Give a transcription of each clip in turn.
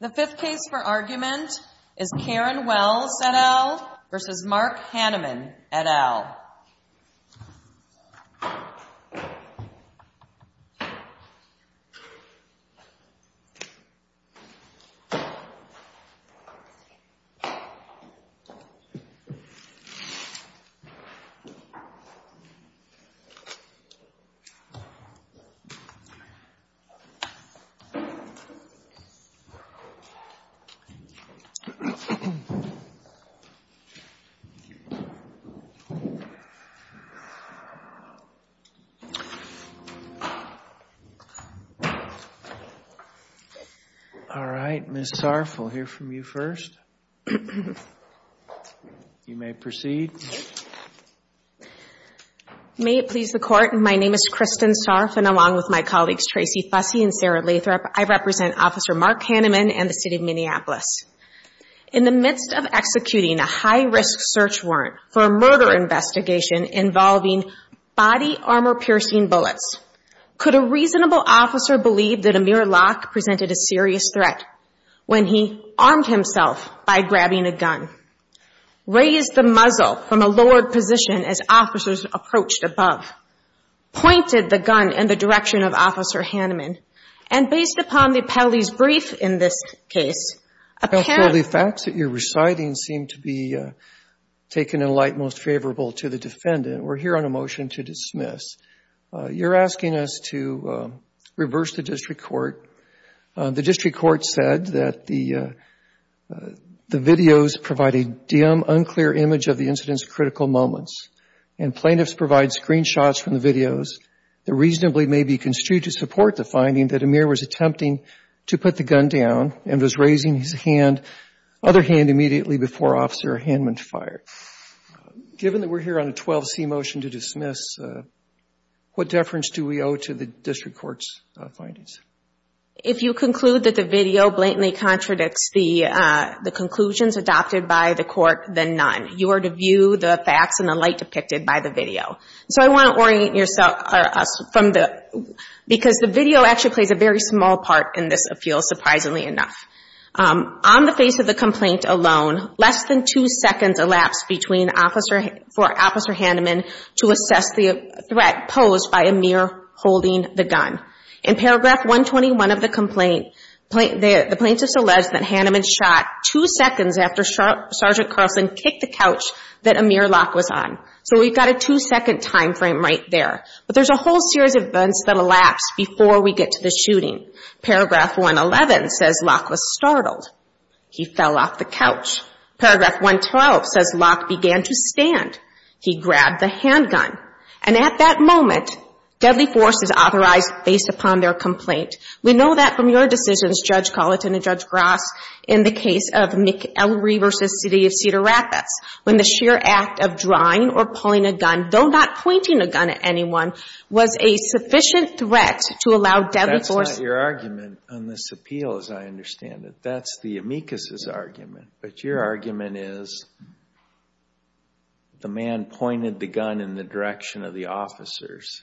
The fifth case for argument is Karen Wells et al. v. Mark Hanneman et al. All right. Ms. Sarf, we'll hear from you first. You may proceed. Ms. Sarf May it please the Court, my name is Kristen Sarf and along with my colleagues Tracy Fussey and Sarah Lathrop, I represent Officer Mark Hanneman and the City of Minneapolis. In the midst of executing a high-risk search warrant for a murder investigation involving body armor-piercing bullets, could a reasonable officer believe that Amir Locke presented a serious threat when he armed himself by grabbing a gun, raised the muzzle from a lowered position as officers approached above, pointed the gun in the direction of Officer Hanneman, and based upon the appellee's brief in this case, apparently The facts that you're reciting seem to be taken in light most favorable to the defendant. We're here on a motion to dismiss. You're asking us to reverse the district court. The videos provide a dim, unclear image of the incident's critical moments, and plaintiffs provide screenshots from the videos that reasonably may be construed to support the finding that Amir was attempting to put the gun down and was raising his other hand immediately before Officer Hanneman fired. Given that we're here on a 12C motion to dismiss, what deference do we owe to the district court's findings? If you conclude that the video blatantly contradicts the conclusions adopted by the court, then none. You are to view the facts in the light depicted by the video. So I want to orient yourself from the – because the video actually plays a very small part in this appeal, surprisingly enough. On the face of the complaint alone, less than two seconds elapsed between – for Officer Hanneman to assess the threat posed by Amir holding the gun. In paragraph 121 of the complaint, the plaintiffs allege that Hanneman shot two seconds after Sergeant Carlson kicked the couch that Amir Locke was on. So we've got a two-second time frame right there. But there's a whole series of events that elapse before we get to the shooting. Paragraph 111 says Locke was startled. He fell off the couch. Paragraph 112 says Locke began to stand. He grabbed the handgun. And at that moment, deadly force is authorized based upon their complaint. We know that from your decisions, Judge Colleton and Judge Grass, in the case of McElry v. City of Cedar Rapids, when the sheer act of drawing or pulling a gun, though not pointing a gun at anyone, was a sufficient threat to allow deadly force – That's not your argument on this appeal, as I understand it. That's the amicus' argument. But your argument is the man pointed the gun in the direction of the officers.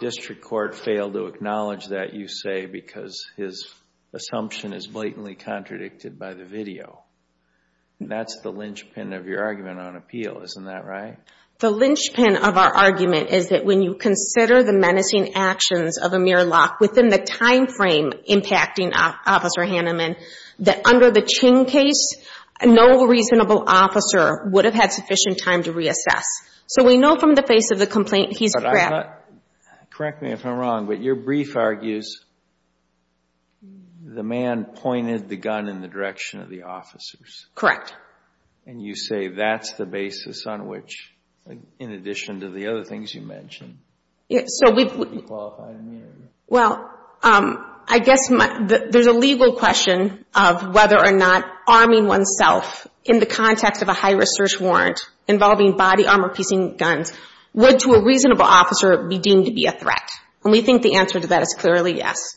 District Court failed to acknowledge that, you say, because his assumption is blatantly contradicted by the video. That's the linchpin of your argument on appeal, isn't that right? The linchpin of our argument is that when you consider the menacing actions of Amir and the women, that under the Ching case, no reasonable officer would have had sufficient time to reassess. So we know from the face of the complaint, he's grabbed – But I'm not – correct me if I'm wrong, but your brief argues the man pointed the gun in the direction of the officers. Correct. And you say that's the basis on which, in addition to the other things you mentioned, he qualified in the interview. Well, I guess there's a legal question of whether or not arming oneself in the context of a high-risk search warrant involving body armor-piecing guns would, to a reasonable officer, be deemed to be a threat. And we think the answer to that is clearly yes.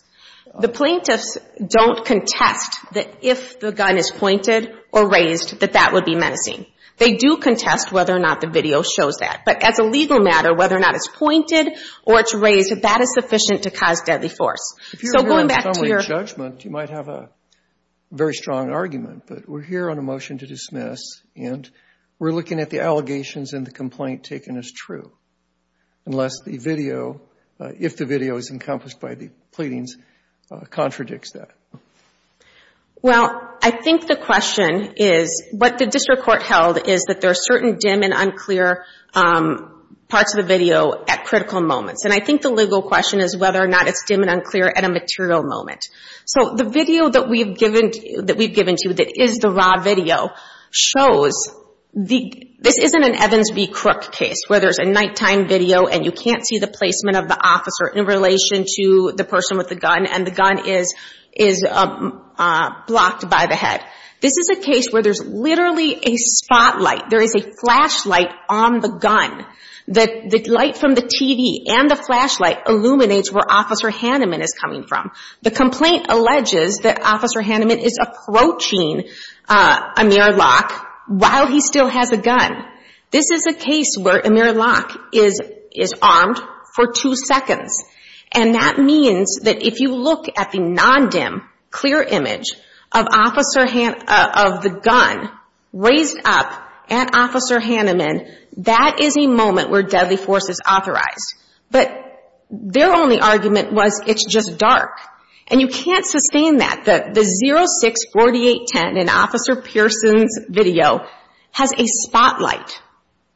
The plaintiffs don't contest that if the gun is pointed or raised, that that would be menacing. They do contest whether or not the video shows that. But as a legal matter, whether or not it's pointed or it's raised, that is sufficient to cause deadly force. So going back to your – If you're here on summary judgment, you might have a very strong argument. But we're here on a motion to dismiss, and we're looking at the allegations in the complaint taken as true, unless the video – if the video is encompassed by the pleadings contradicts that. Well, I think the question is – what the district court held is that there are certain dim and unclear parts of the video at critical moments. And I think the legal question is whether or not it's dim and unclear at a material moment. So the video that we've given to you that is the raw video shows – this isn't an Evans v. Crook case, where there's a nighttime video and you can't see the placement of the officer in relation to the person with the gun, and the gun is blocked by the head. This is a case where there's literally a spotlight. There is a flashlight on the gun. The light from the TV and the flashlight illuminates where Officer Hanneman is coming from. The complaint alleges that Officer Hanneman is approaching Amir Locke while he still has a gun. This is a case where Amir Locke is armed for two seconds. And that means that if you look at the non-dim, clear image of the gun raised up at Officer Hanneman, that is a moment where deadly force is authorized. But their only argument was it's just dark. And you can't sustain that. The 064810 in Officer Pearson's video has a spotlight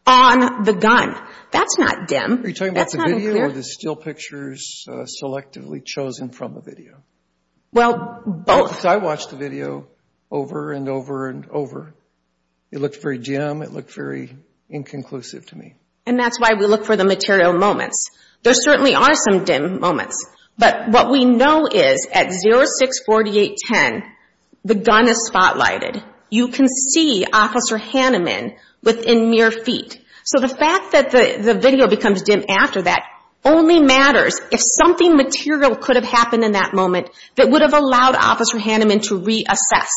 on the gun. That's not dim. Are you talking about the video or the still pictures selectively chosen from the video? Well, both. I watched the video over and over and over. It looked very dim. It looked very inconclusive to me. And that's why we look for the material moments. There certainly are some dim moments. But what we know is at 064810, the gun is spotlighted. You can see Officer Hanneman within mere feet. So the fact that the video becomes dim after that only matters if something material could have happened in that moment that would have allowed Officer Hanneman to reassess.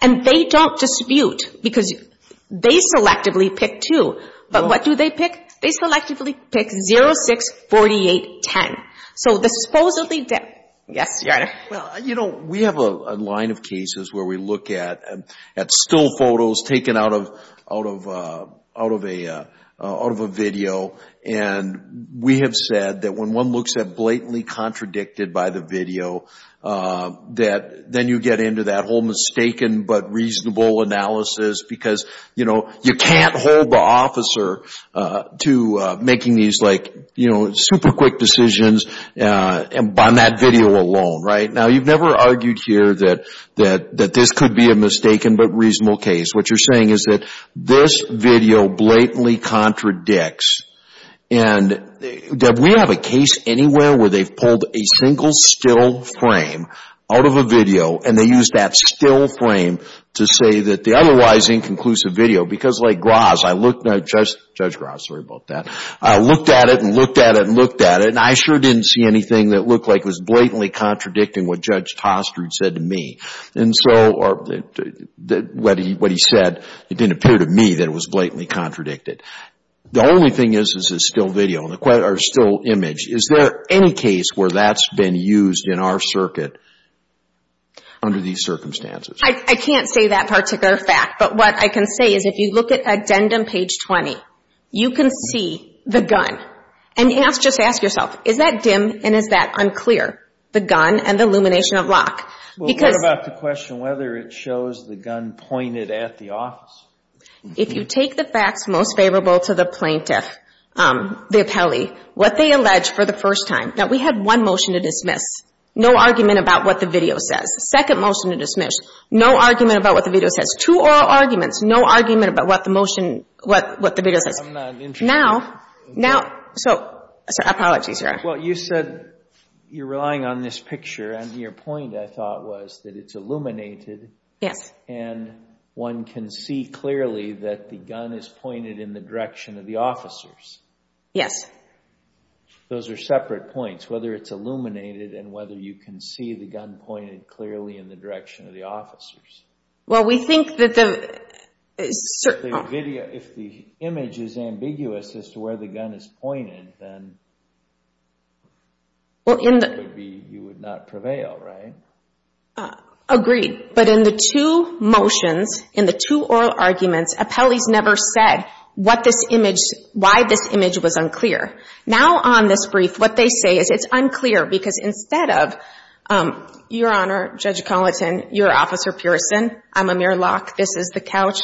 And they don't dispute because they selectively pick two. But what do they pick? They selectively pick 064810. So the supposedly dim – yes, Your Honor. You know, we have a line of cases where we look at still photos taken out of a, you know, media, out of a video. And we have said that when one looks at blatantly contradicted by the video, that then you get into that whole mistaken but reasonable analysis because, you know, you can't hold the officer to making these, like, you know, super quick decisions on that video alone, right? Now, you've never argued here that this could be a mistaken but reasonable case. What you're saying is that this video blatantly contradicts. And, Deb, we have a case anywhere where they've pulled a single still frame out of a video and they used that still frame to say that the otherwise inconclusive video, because like Graz, I looked at – Judge Graz, sorry about that – I looked at it and looked at it and looked at it and I sure didn't see anything that looked like it was blatantly contradicting what Judge Tostred said to me. And so – or what he said, it didn't appear to me that it was blatantly contradicted. The only thing is this is still video and the – or still image. Is there any case where that's been used in our circuit under these circumstances? I can't say that particular fact. But what I can say is if you look at addendum page 20, you can see the gun. And just ask yourself, is that dim and is that unclear, the gun and the illumination of lock? Well, what about the question whether it shows the gun pointed at the office? If you take the facts most favorable to the plaintiff, the appellee, what they allege for the first time – now, we had one motion to dismiss, no argument about what the video says. Second motion to dismiss, no argument about what the video says. Two oral arguments, no argument about what the motion – what the video says. I'm not interested. Now – now – so – sorry, apologies, Your Honor. Well, you said you're relying on this picture. And your point, I thought, was that it's illuminated and one can see clearly that the gun is pointed in the direction of the officers. Yes. Those are separate points, whether it's illuminated and whether you can see the gun pointed clearly in the direction of the officers. Well, we think that the – If the image is ambiguous as to where the gun is pointed, then you would not prevail, right? Agreed. But in the two motions, in the two oral arguments, appellees never said what this image – why this image was unclear. Now, on this brief, what they say is it's unclear because instead of – Your Honor, Judge Colleton, you're Officer Pearson. I'm Amir Locke. This is the couch.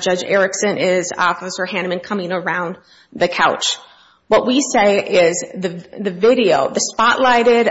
Judge Erickson is Officer Hanneman coming around the couch. What we say is the video, the spotlighted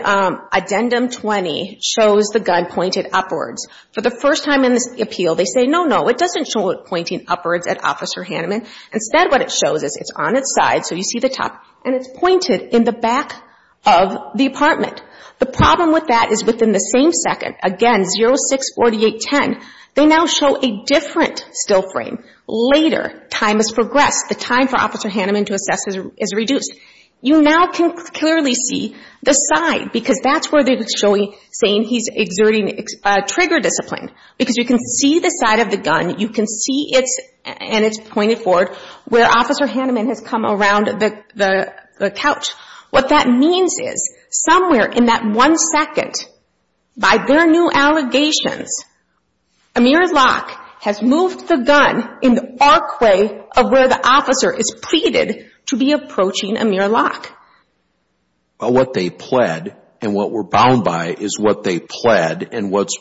Addendum 20, shows the gun pointed upwards. For the first time in this appeal, they say, no, no, it doesn't show it pointing upwards at Officer Hanneman. Instead, what it shows is it's on its side, so you see the top, and it's pointed in the back of the apartment. The problem with that is within the same second, again, 0-6-48-10, they now show a different still frame. Later, time has progressed. The time for Officer Hanneman to assess is reduced. You now can clearly see the side because that's where they're showing – saying he's exerting trigger discipline because you can see the side of the gun. You can see it's – and it's pointed forward where Officer Hanneman has come around the couch. What that means is somewhere in that one second, by their new allegations, Amir Locke has moved the gun in the arc way of where the officer is pleaded to be approaching Amir Locke. What they pled, and what we're bound by, is what they pled and what's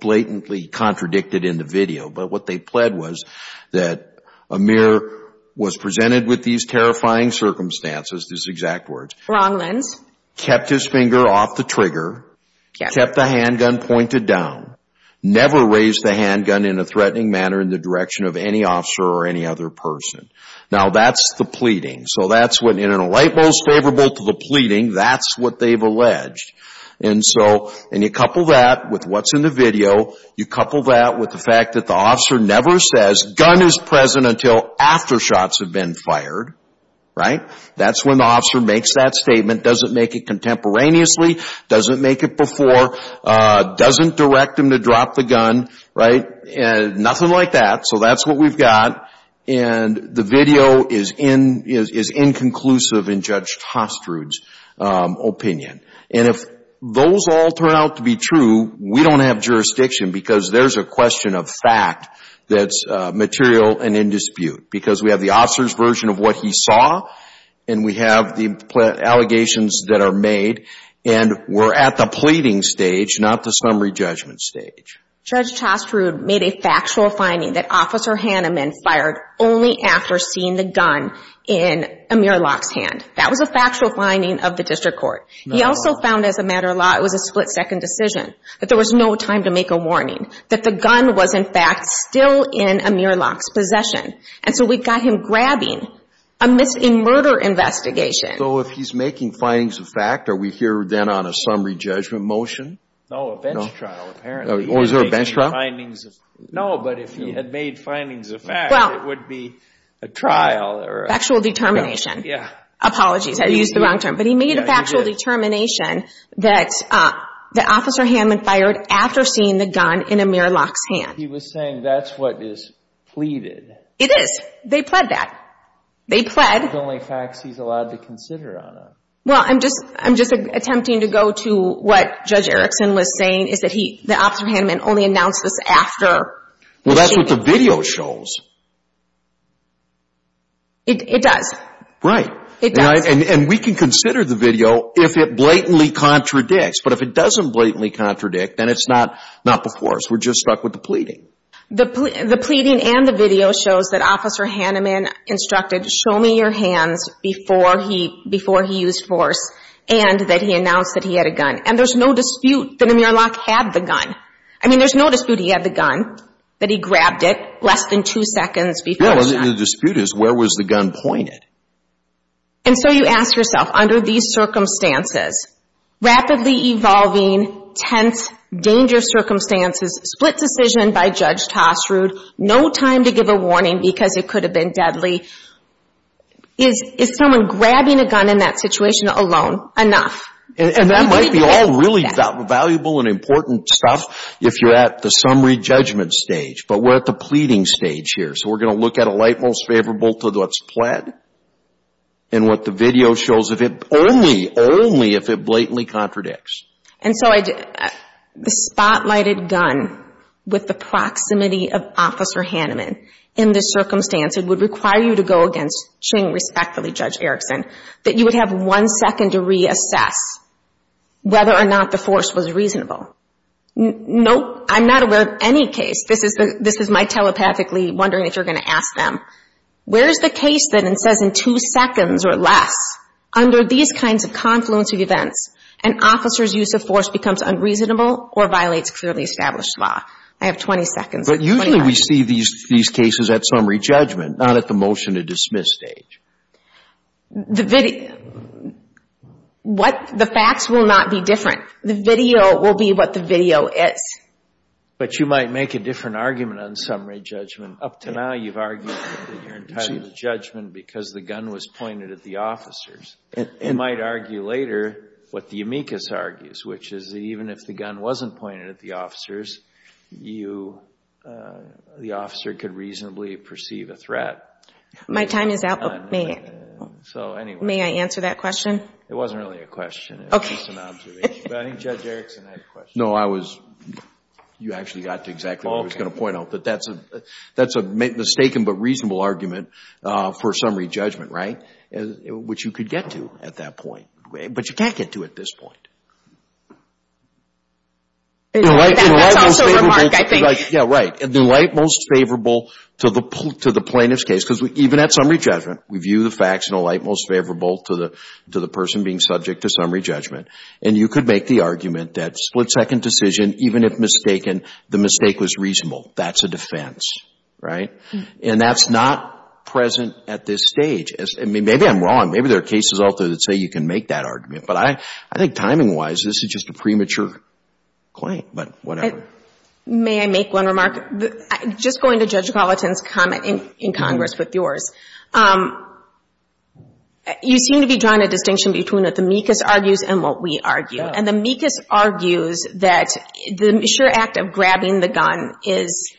blatantly contradicted in the video. But what they pled was that Amir was presented with these terrifying circumstances, these exact words. Wrong lens. Kept his finger off the trigger. Yes. Kept the handgun pointed down. Never raised the handgun in a threatening manner in the direction of any officer or any other person. Now, that's the pleading. So that's what – in a light most favorable to the pleading, that's what they've alleged. And so – and you couple that with what's in the video. You couple that with the fact that the officer never says, gun is present until after shots have been fired. Right? That's when the officer makes that statement. Doesn't make it contemporaneously. Doesn't make it before. Doesn't direct him to drop the gun. Right? And nothing like that. So that's what we've got. And the video is inconclusive in Judge Tostrud's opinion. And if those all turn out to be true, we don't have jurisdiction because there's a question of fact that's material and in dispute. Because we have the officer's version of what he saw, and we have the allegations that are made, and we're at the pleading stage, not the summary judgment stage. Judge Tostrud made a factual finding that Officer Hanneman fired only after seeing the gun in Amir Locke's hand. That was a factual finding of the district court. He also found, as a matter of law, it was a split-second decision. That there was no time to make a warning. That the gun was, in fact, still in Amir Locke's possession. And so we've got him grabbing a murder investigation. So if he's making findings of fact, are we here then on a summary judgment motion? No, a bench trial, apparently. Oh, is there a bench trial? No, but if he had made findings of fact, it would be a trial or a... Factual determination. Yeah. Apologies, I used the wrong term. But he made a factual determination that Officer Hanneman fired after seeing the gun in Amir Locke's hand. He was saying that's what is pleaded. It is. They pled that. They pled... The only facts he's allowed to consider on it. Well, I'm just attempting to go to what Judge Erickson was saying, is that he, that Officer Hanneman only announced this after... Well, that's what the video shows. It does. Right. It does. And we can consider the video if it blatantly contradicts. But if it doesn't blatantly contradict, then it's not before us. We're just stuck with the pleading. The pleading and the video shows that Officer Hanneman instructed, show me your hands before he used force. And that he announced that he had a gun. And there's no dispute that Amir Locke had the gun. I mean, there's no dispute he had the gun. That he grabbed it less than two seconds before the shot. Yeah, and the dispute is, where was the gun pointed? And so you ask yourself, under these circumstances, rapidly evolving, tense, dangerous circumstances, split decision by Judge Tossrud, no time to give a warning because it could have been deadly. Is someone grabbing a gun in that situation alone enough? And that might be all really valuable and important stuff if you're at the summary judgment stage. But we're at the pleading stage here. So we're going to look at a light most favorable to what's pled. And what the video shows, only if it blatantly contradicts. And so the spotlighted gun with the proximity of Officer Hanneman, in this circumstance, it would require you to go against Ching respectfully, Judge Erickson, that you would have one second to reassess whether or not the force was reasonable. No, I'm not aware of any case, this is my telepathically wondering if you're going to ask them, where is the case that says in two seconds or less, under these kinds of confluence of events, an officer's use of force becomes unreasonable or violates clearly established law? I have 20 seconds. But usually we see these cases at summary judgment, not at the motion to dismiss stage. The facts will not be different. The video will be what the video is. But you might make a different argument on summary judgment. Up to now you've argued that you're entitled to judgment because the gun was pointed at the officers. You might argue later what the amicus argues, which is that even if the gun wasn't pointed at the officers, the officer could reasonably perceive a threat. My time is up. May I answer that question? It wasn't really a question. It was just an observation. But I think Judge Erickson had a question. No, you actually got to exactly what I was going to point out, that that's a mistaken but reasonable argument for summary judgment, right, which you could get to at that point. But you can't get to at this point. That's also your mark, I think. Yeah, right. The light most favorable to the plaintiff's case, because even at summary judgment we view the facts in a light most favorable to the person being subject to summary judgment. And you could make the argument that split-second decision, even if mistaken, the mistake was reasonable. That's a defense, right? And that's not present at this stage. Maybe I'm wrong. Maybe there are cases out there that say you can make that argument. But I think timing-wise this is just a premature claim. But whatever. May I make one remark? Just going to Judge Gallatin's comment in Congress with yours. You seem to be drawing a distinction between what the meekest argues and what we argue. And the meekest argues that the sure act of grabbing the gun is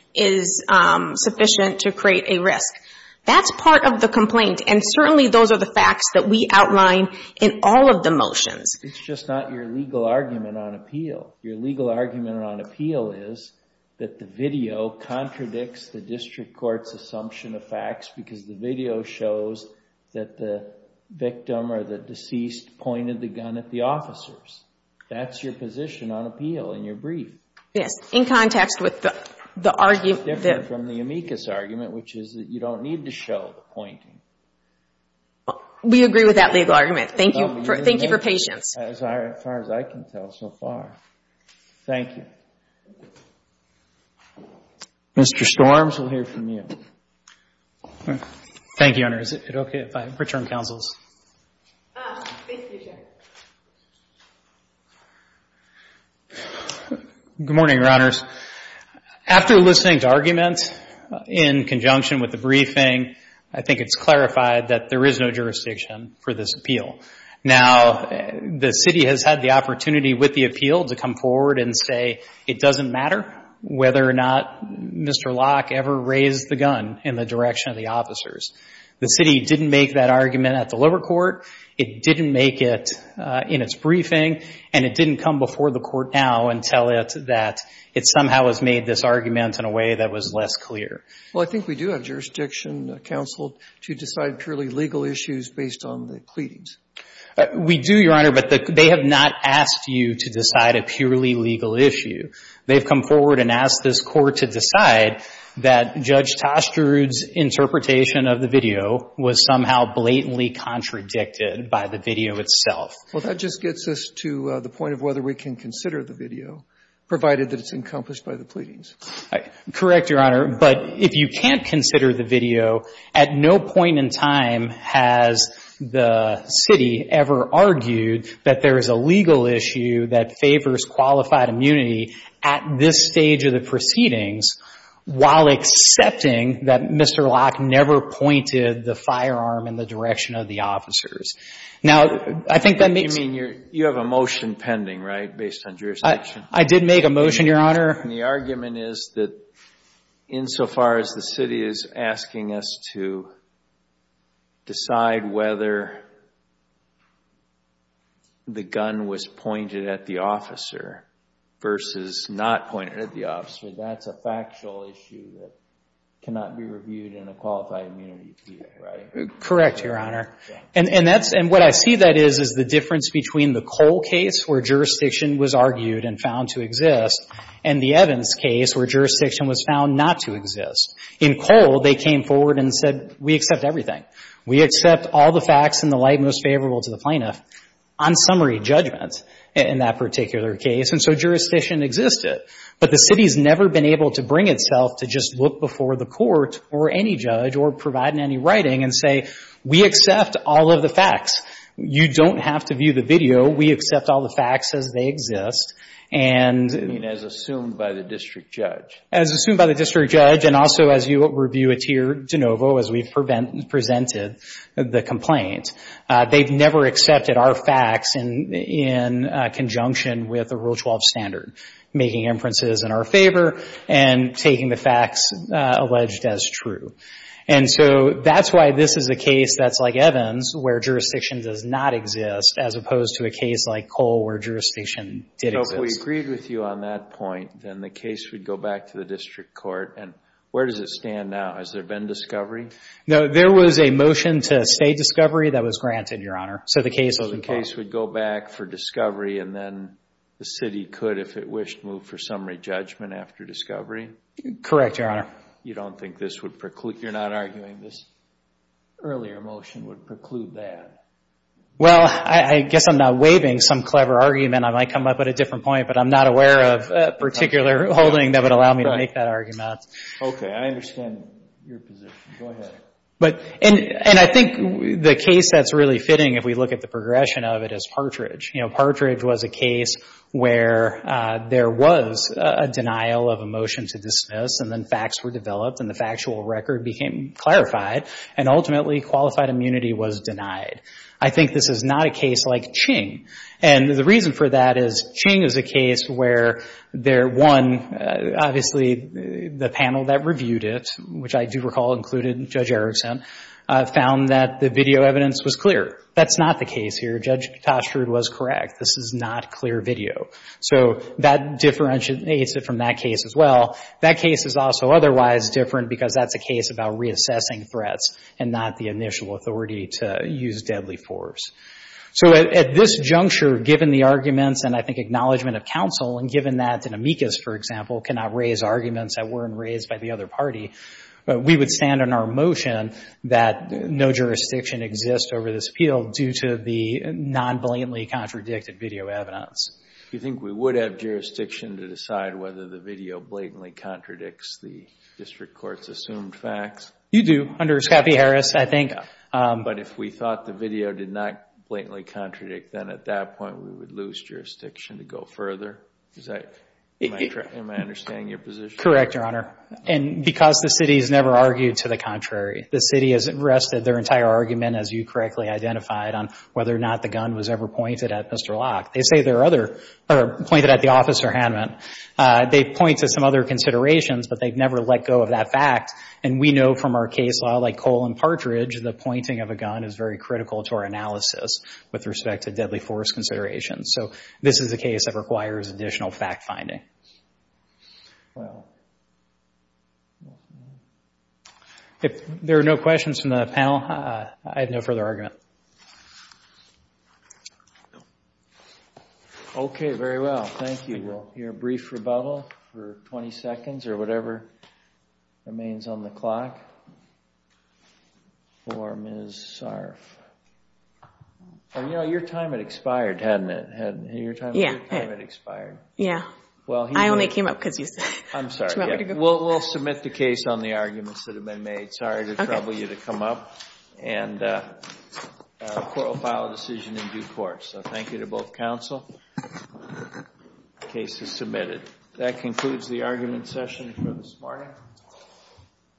sufficient to create a risk. That's part of the complaint. And certainly those are the facts that we outline in all of the motions. It's just not your legal argument on appeal. Your legal argument on appeal is that the video contradicts the district court's assumption of facts because the video shows that the victim or the deceased pointed the gun at the officers. That's your position on appeal in your brief. Yes. In context with the argument. It's different from the amicus argument, which is that you don't need to show the pointing. We agree with that legal argument. Thank you for patience. As far as I can tell so far. Thank you. Mr. Storms, we'll hear from you. Thank you, Your Honor. Is it okay if I return counsels? Please do, Your Honor. Good morning, Your Honors. After listening to arguments in conjunction with the briefing, I think it's clarified that there is no jurisdiction for this appeal. Now, the city has had the opportunity with the appeal to come forward and say it doesn't matter whether or not Mr. Locke ever raised the gun in the direction of the officers. The city didn't make that argument at the liver court. It didn't make it in its briefing. And it didn't come before the court now and tell it that it somehow has made this argument in a way that was less clear. Well, I think we do have jurisdiction, counsel, to decide purely legal issues based on the pleadings. We do, Your Honor. But they have not asked you to decide a purely legal issue. They've come forward and asked this court to decide that Judge Toster's interpretation of the video was somehow blatantly contradicted by the video itself. Well, that just gets us to the point of whether we can consider the video, provided that it's encompassed by the pleadings. Correct, Your Honor. But if you can't consider the video, at no point in time has the city ever argued that there is a legal issue that favors qualified immunity at this stage of the proceedings while accepting that Mr. Locke never pointed the firearm in the direction of the officers. Now, I think that makes sense. You have a motion pending, right, based on jurisdiction? I did make a motion, Your Honor. And the argument is that insofar as the city is asking us to decide whether the gun was pointed at the officer versus not pointed at the officer, that's a factual issue that cannot be reviewed in a qualified immunity case, right? Correct, Your Honor. And what I see that is is the difference between the Cole case, where jurisdiction was argued and found to exist, and the Evans case, where jurisdiction was found not to exist. In Cole, they came forward and said, we accept everything. We accept all the facts in the light most favorable to the plaintiff, on summary judgment in that particular case. And so jurisdiction existed. But the city's never been able to bring itself to just look before the court or any judge or provide any writing and say, we accept all of the facts. You don't have to view the video. We accept all the facts as they exist. I mean, as assumed by the district judge. As assumed by the district judge, and also as you review it here, DeNovo, as we've presented the complaint, they've never accepted our facts in conjunction with the Rule 12 standard, making inferences in our favor and taking the facts alleged as true. And so that's why this is a case that's like Evans, where jurisdiction does not exist, as opposed to a case like Cole, where jurisdiction did exist. So if we agreed with you on that point, then the case would go back to the district court. And where does it stand now? Has there been discovery? No, there was a motion to stay discovery that was granted, Your Honor. So the case was involved. So the case would go back for discovery, and then the city could, if it wished, move for summary judgment after discovery? Correct, Your Honor. You don't think this would preclude – you're not arguing this? Earlier motion would preclude that. Well, I guess I'm not waiving some clever argument. I might come up with a different point, but I'm not aware of a particular holding that would allow me to make that argument. Okay, I understand your position. Go ahead. And I think the case that's really fitting, if we look at the progression of it, is Partridge. You know, Partridge was a case where there was a denial of a motion to dismiss, and then facts were developed, and the factual record became clarified, and ultimately qualified immunity was denied. I think this is not a case like Ching. And the reason for that is Ching is a case where there, one, obviously the panel that reviewed it, which I do recall included Judge Erickson, found that the video evidence was clear. That's not the case here. Judge Tostrud was correct. This is not clear video. So that differentiates it from that case as well. That case is also otherwise different, because that's a case about reassessing threats and not the initial authority to use deadly force. So at this juncture, given the arguments and I think acknowledgement of counsel, and given that an amicus, for example, cannot raise arguments that weren't raised by the other party, we would stand on our motion that no jurisdiction exists over this appeal due to the non-blatantly contradicted video evidence. Do you think we would have jurisdiction to decide whether the video blatantly contradicts the district court's assumed facts? You do, under Scappi-Harris, I think. But if we thought the video did not blatantly contradict, then at that point we would lose jurisdiction to go further. Am I understanding your position? Correct, Your Honor. And because the city has never argued to the contrary, the city has rested their entire argument, as you correctly identified, on whether or not the gun was ever pointed at Mr. Locke. They say there are other, pointed at the officer, Hanman. They point to some other considerations, but they've never let go of that fact. And we know from our case law, like Cole and Partridge, the pointing of a gun is very critical to our analysis with respect to deadly force considerations. So this is a case that requires additional fact-finding. Well. If there are no questions from the panel, I have no further argument. Okay, very well. Thank you. We'll hear a brief rebuttal for 20 seconds or whatever remains on the clock. For Ms. Sarf. You know, your time had expired, hadn't it? Your time had expired. Yeah. I only came up because you said. I'm sorry. We'll submit the case on the arguments that have been made. Sorry to trouble you to come up. And the court will file a decision in due course. So thank you to both counsel. The case is submitted. That concludes the argument session for this morning.